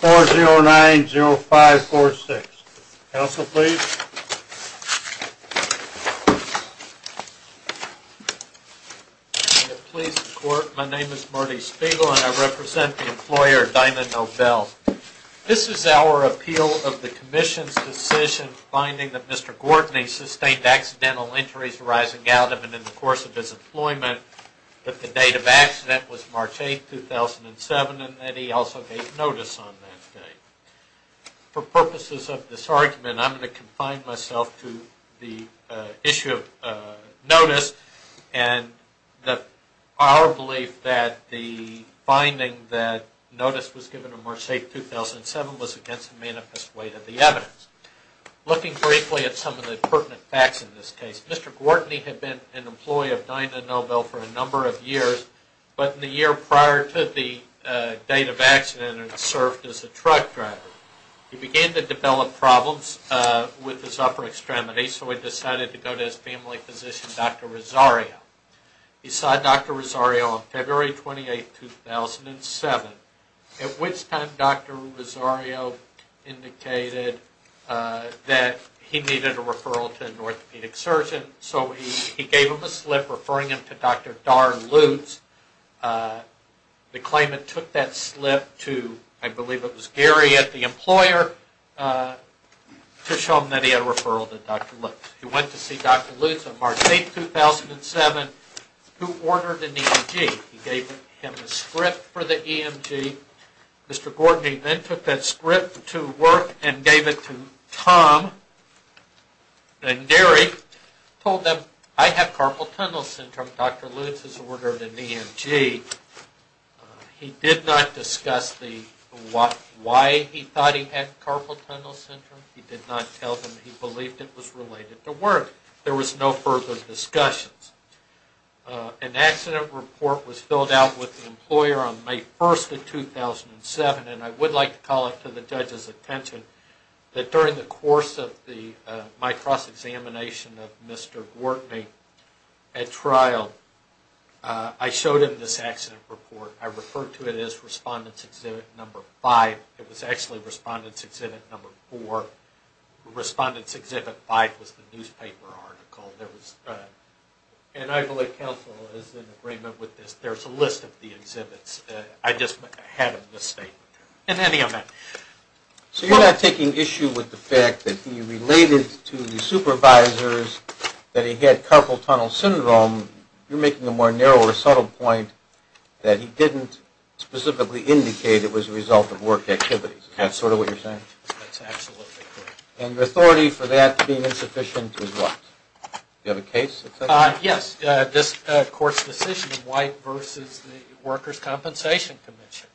409-0546. Council, please. Please support. My name is Marty Spiegel and I represent the employer Dyno Nobel. This is our appeal of the Commission's decision finding that Mr. Gortney sustained accidental injuries arising out of and in the course of his employment, but the date of accident was March 8, 2007 and that he also gave notice on that date. For purposes of this argument, I'm going to confine myself to the issue of notice and our belief that the finding that notice was given on March 8, 2007 was against the manifest weight of the evidence. Looking briefly at some of the pertinent facts in this case, Mr. Gortney had been an employee of Dyno Nobel for a number of years, but in the year prior to the date of accident and had served as a truck driver, he began to develop problems with his upper extremity, so he decided to go to his family physician, Dr. Rosario. He saw Dr. Rosario on February 28, 2007, at which time Dr. Rosario indicated that he needed a referral to an orthopedic surgeon, so he gave him a slip referring him to Dr. Dar Lutz. The claimant took that slip to, I believe it was Gary at the employer, to show him that he had a referral to Dr. Lutz. He went to see Dr. Lutz on March 8, 2007, who ordered an EMG. He gave the slip to work and gave it to Tom and Gary, told them, I have carpal tunnel syndrome. Dr. Lutz has ordered an EMG. He did not discuss why he thought he had carpal tunnel syndrome. He did not tell them he believed it was related to work. There was no further discussions. An accident report was filled out with the employer on May 1, 2007, and I would like to call it to the judge's attention that during the course of the MITROS examination of Mr. Gortney at trial, I showed him this accident report. I referred to it as Respondent's Exhibit No. 5. It was actually Respondent's Exhibit No. 4. Respondent's Exhibit 5 was the newspaper article. And I believe counsel is in agreement with this. There's a list of the exhibits. I just had a misstatement in any event. So you're not taking issue with the fact that he related to the supervisors that he had carpal tunnel syndrome. You're making a more narrow or subtle point that he didn't specifically indicate it was a result of work activities. Is that sort of what you're saying? That's absolutely correct. And the authority for that being insufficient is what? Do you have a case? Yes. This court's decision in White v. Workers' Compensation Commission.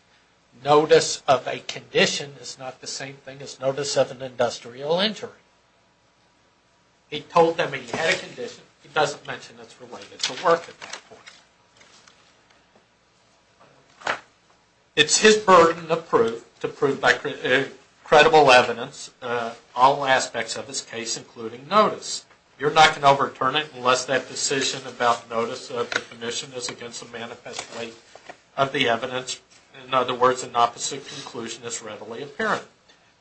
Notice of a condition is not the same thing as notice of an industrial injury. He told them he had a condition. He doesn't mention it's related to work at that point. It's his burden of proof to prove by credible evidence all aspects of this case including notice. You're not going to overturn it unless that decision about notice of the condition is against the manifest weight of the evidence. In other words, an opposite conclusion is readily apparent.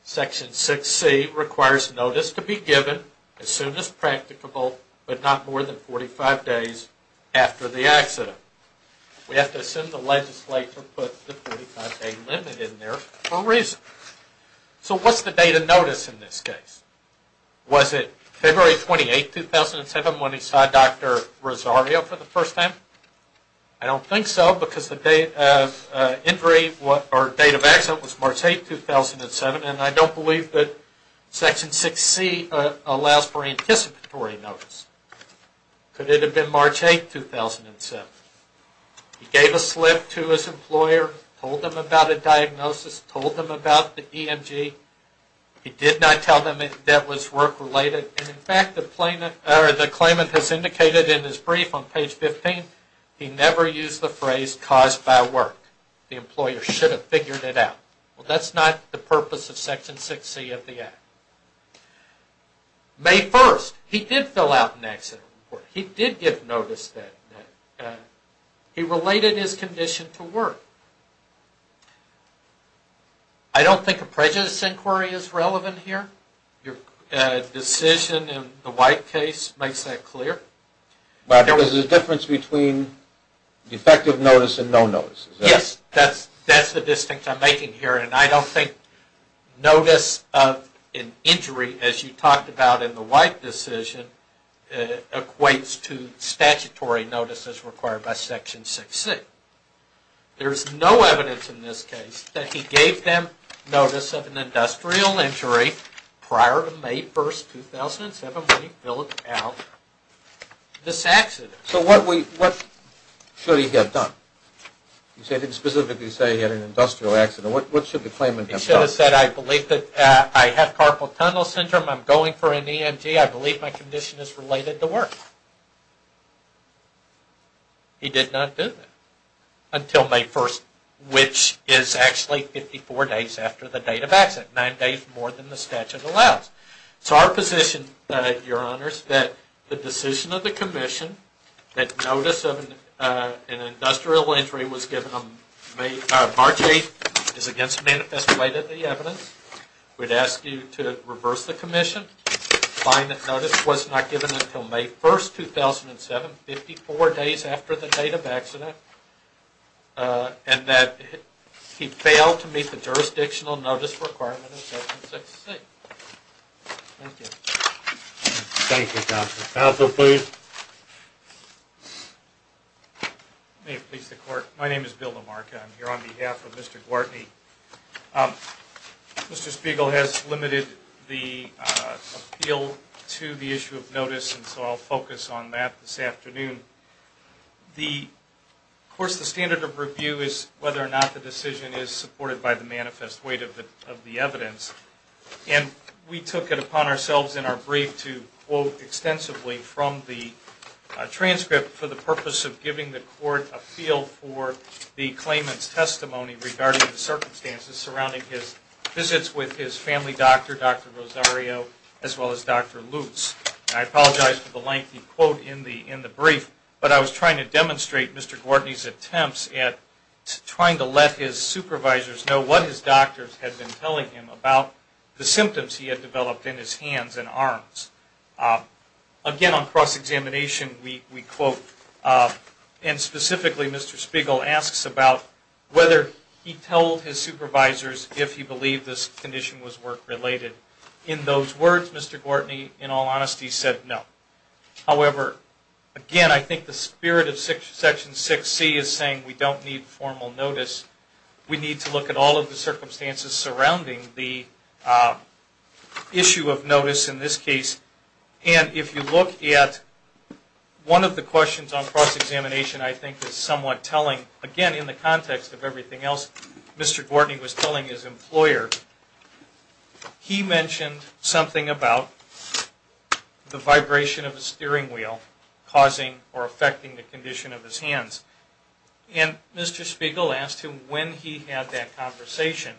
Section 6C requires notice to be given as soon as practicable but not more than 45 days after the accident. We have to assume the legislature put the 45 day limit in there for a reason. So what's the date of notice in this case? Was it February 28, 2007 when he saw Dr. Rosario for the first time? I don't think so because the date of accident was March 8, 2007. He gave a slip to his employer, told them about a diagnosis, told them about the EMG. He did not tell them that was work related. In fact, the claimant has indicated in his brief on page 15 he never used the phrase caused by work. The employer should have figured it out. That's not the purpose of Section 6C of the Act. May 1st, he did fill out an accident report. He did give notice that he related his condition to work. I don't think a prejudice inquiry is relevant here. Your decision in the White case makes that clear. But there was a difference between defective notice and no notice. Yes, that's the distinction I'm making here and I don't think notice of an injury as you talked about in the White decision equates to statutory notices required by Section 6C. There's no evidence in this case that he gave them notice of an industrial injury prior to May 1st, 2007 when he got done. He didn't specifically say he had an industrial accident. What should the claimant have done? He should have said I have carpal tunnel syndrome, I'm going for an EMG, I believe my condition is related to work. He did not do that until May 1st, which is actually 54 days after the date of accident. Nine days more than the statute allows. So our position, Your Honors, is that the decision of the Commission that notice of an industrial injury was given on March 8th is against the manifesto weight of the evidence. We'd ask you to reverse the Commission, find that notice was not given until May 1st, 2007, 54 days after the date of accident and that he failed to meet the jurisdictional notice requirement of Section 6C. Thank you. Thank you, Counselor. Counselor, please. May it please the Court. My name is Bill LaMarca. I'm here on behalf of Mr. Gwartney. Mr. Spiegel has limited the appeal to the issue of notice and so I'll focus on that this afternoon. Of course the standard of review is whether or not the decision is supported by the manifest weight of the evidence and we took it upon ourselves in our brief to quote extensively from the transcript for the purpose of giving the Court a feel for the claimant's testimony regarding the circumstances surrounding his visits with his family doctor, Dr. Rosario, as well as Dr. Lutz. I apologize for the lengthy quote in the brief, but I was trying to demonstrate Mr. Gwartney's attempts at trying to let his supervisors know what his doctors had been telling him about the symptoms he had developed in his hands and arms. Again on cross-examination we quote, and specifically Mr. Spiegel asks about whether he told his supervisors if he was going to do a cross-examination. In his words Mr. Gwartney in all honesty said no. However, again I think the spirit of Section 6C is saying we don't need formal notice. We need to look at all of the circumstances surrounding the issue of notice in this case and if you look at one of the questions on cross-examination I think is somewhat telling, again in the brief he says something about the vibration of the steering wheel causing or affecting the condition of his hands. And Mr. Spiegel asked him when he had that conversation.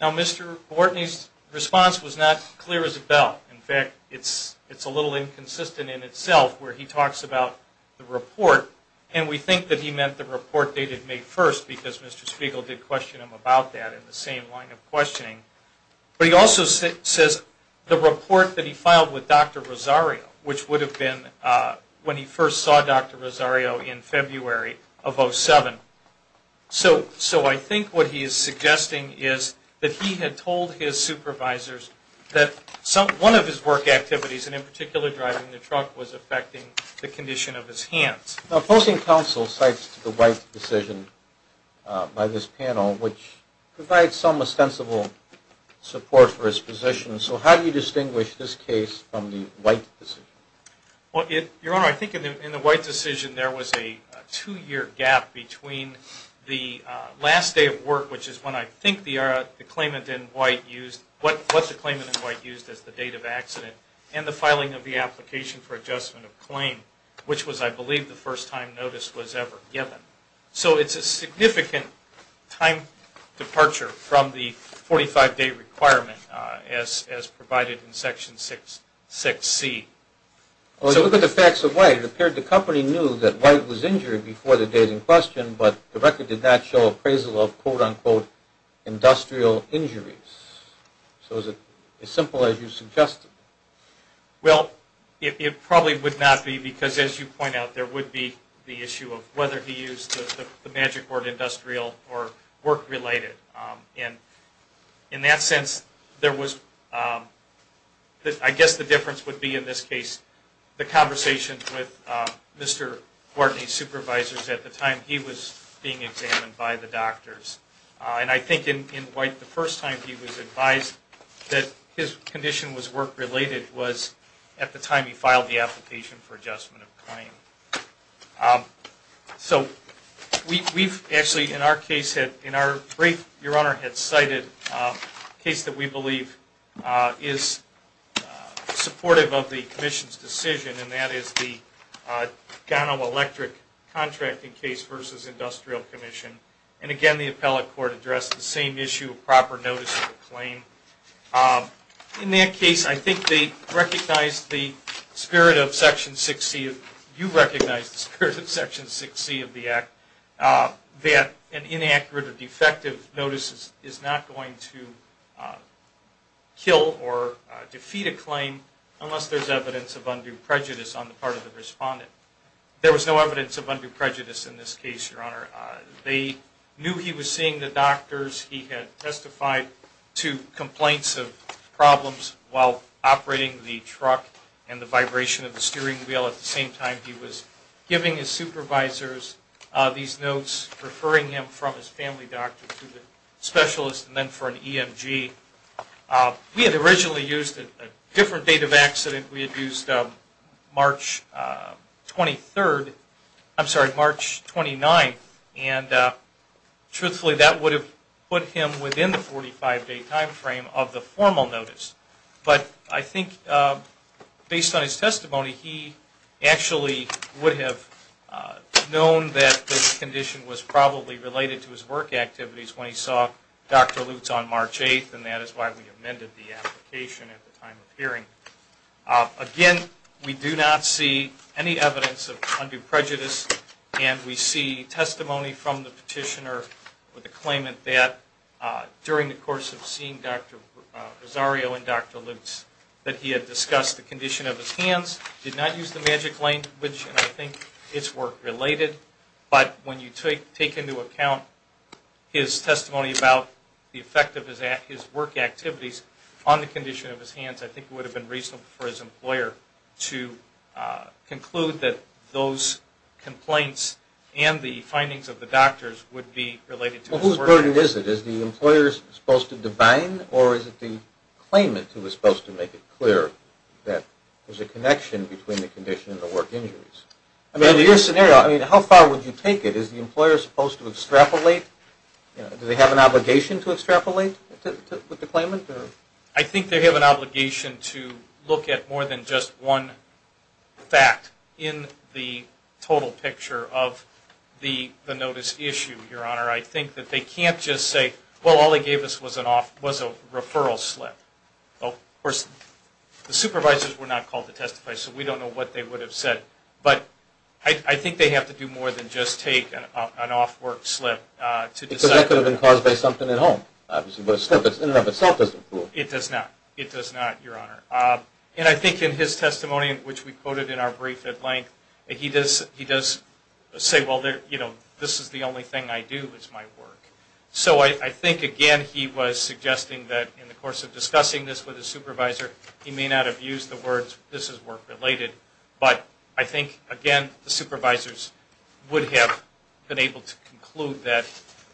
Now Mr. Gwartney's response was not clear as a bell. In fact it's a little inconsistent in itself where he talks about the report and we think that he meant the report dated May 1st because Mr. Spiegel did a report that he filed with Dr. Rosario which would have been when he first saw Dr. Rosario in February of 07. So I think what he is suggesting is that he had told his supervisors that one of his work activities and in particular driving the truck was affecting the condition of his hands. Now opposing counsel cites the right decision by this panel which provides some ostensible support for his position. So how do you distinguish this case from the White decision? Your Honor, I think in the White decision there was a two year gap between the last day of work which is when I think the claimant in White used what the claimant in White used as the date of accident and the filing of the application for adjustment of claim which was I believe the first time notice was ever given. So it's a significant time departure from the 45 day requirement as provided in section 6C. Well look at the facts of White. It appeared the company knew that White was injured before the date in question but the record did not show appraisal of quote unquote industrial injuries. So is it as simple as you suggested? Well it probably would not be because as you point out there would be the issue of whether he used the magic word industrial or work related and in that sense there was, I guess the difference would be in this case the conversation with Mr. Gordney's supervisors at the time he was being examined by the doctors. And I think in White the first time he was advised that his condition was work related was at the time he filed the application for adjustment of claim. So we've actually in our case had in our brief your Honor had cited a case that we believe is supportive of the Commission's decision and that is the Gano Electric contracting case versus Industrial Commission. And again the appellate court addressed the same issue of proper notice of the claim. In that case I think they recognized the spirit of Section 6C of the Act that an inaccurate or defective notice is not going to kill or defeat a claim unless there's evidence of undue prejudice on the part of the respondent. There was no evidence of undue prejudice in this case your Honor. They knew he was seeing the doctors. He had testified to complaints of problems while operating the truck and the vibration of the steering wheel at the same time he was giving his supervisors these notes referring him from his family doctor to the specialist and then for an EMG. We had originally used a different date of accident. We had used March 23rd, I'm sorry March 29th and truthfully that would have put him within the 45 day time frame of the formal notice. But I think based on his testimony he actually would have known that this condition was probably related to his work activities when he saw Dr. Lutz on March 8th and that is why we amended the application at the time of hearing. Again we do not see any evidence of claimant that during the course of seeing Dr. Rosario and Dr. Lutz that he had discussed the condition of his hands, did not use the magic language and I think it's work related. But when you take into account his testimony about the effect of his work activities on the condition of his hands I think it would have been reasonable for his employer to conclude that those complaints and the findings of the doctors would be related to his work activities. Well whose burden is it? Is the employer supposed to divine or is it the claimant who is supposed to make it clear that there's a connection between the condition and the work injuries? I mean in your scenario how far would you take it? Is the employer supposed to extrapolate? Do they have an obligation to extrapolate with the claimant? I think they have an obligation to look at more than just one fact in the total picture of the notice issue, Your Honor. I think that they can't just say, well all they gave us was a referral slip. Of course the supervisors were not called to testify so we don't know what they would have said. But I think they have to do more than just take an off work slip to decide. That could have been caused by something at home. It does not, Your Honor. And I think in his testimony, which we quoted in our brief at length, he does say, well this is the only thing I do is my work. So I think again he was suggesting that in the course of discussing this with his supervisor he may not have used the words this is work related. But I think again the supervisors would have been able to conclude that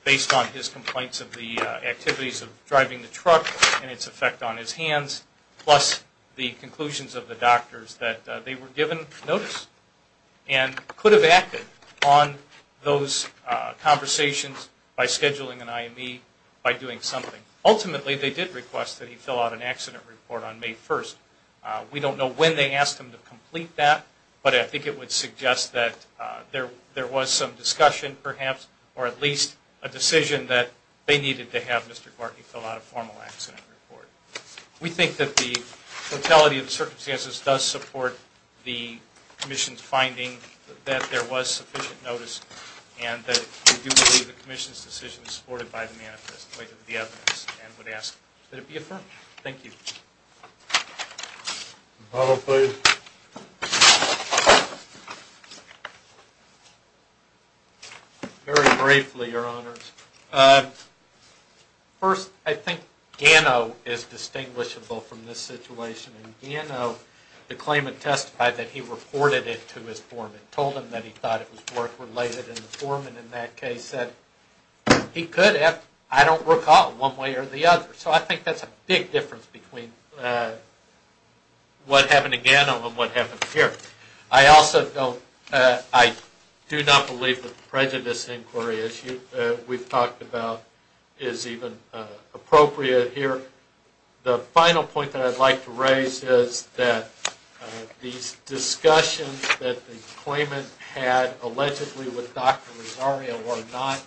based on his complaints of the activities of driving the truck and its effect on his hands plus the conclusions of the doctors that they were given notice and could have acted on those conversations by scheduling an IME by doing something. Ultimately they did request that he fill out an accident report on May 31st. We don't know when they asked him to complete that, but I think it would suggest that there was some discussion perhaps or at least a decision that they needed to have Mr. Glartney fill out a formal accident report. We think that the totality of the circumstances does support the Commission's finding that there was sufficient notice and that we do believe the Commission's decision is supported by the evidence and would ask that it be affirmed. Thank you. Very briefly Your Honors. First I think Gano is distinguishable from this situation and Gano the claimant testified that he reported it to his foreman, told him that he thought it was work related and the foreman in that case said he could have, I don't recall one way or the other. So I think that's a big difference between what happened to Gano and what happened here. I also don't, I do not believe that the prejudice inquiry issue we've talked about is even appropriate here. The final point that I'd like to raise is that these discussions that the claimant had allegedly with Dr. Rosario were not,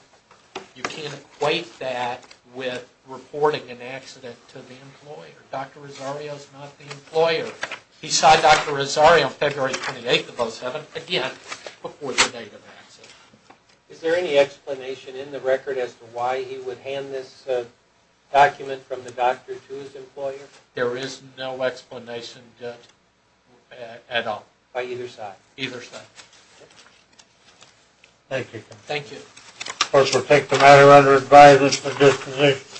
you can't equate that with reporting an accident to the employer. Dr. Rosario is not the employer. He saw Dr. Rosario February 28th of 2007 again before the date of accident. Is there any explanation in the record as to why he would hand this document from the doctor to his employer? There is no explanation at all. By either side? Either side. Thank you. Thank you.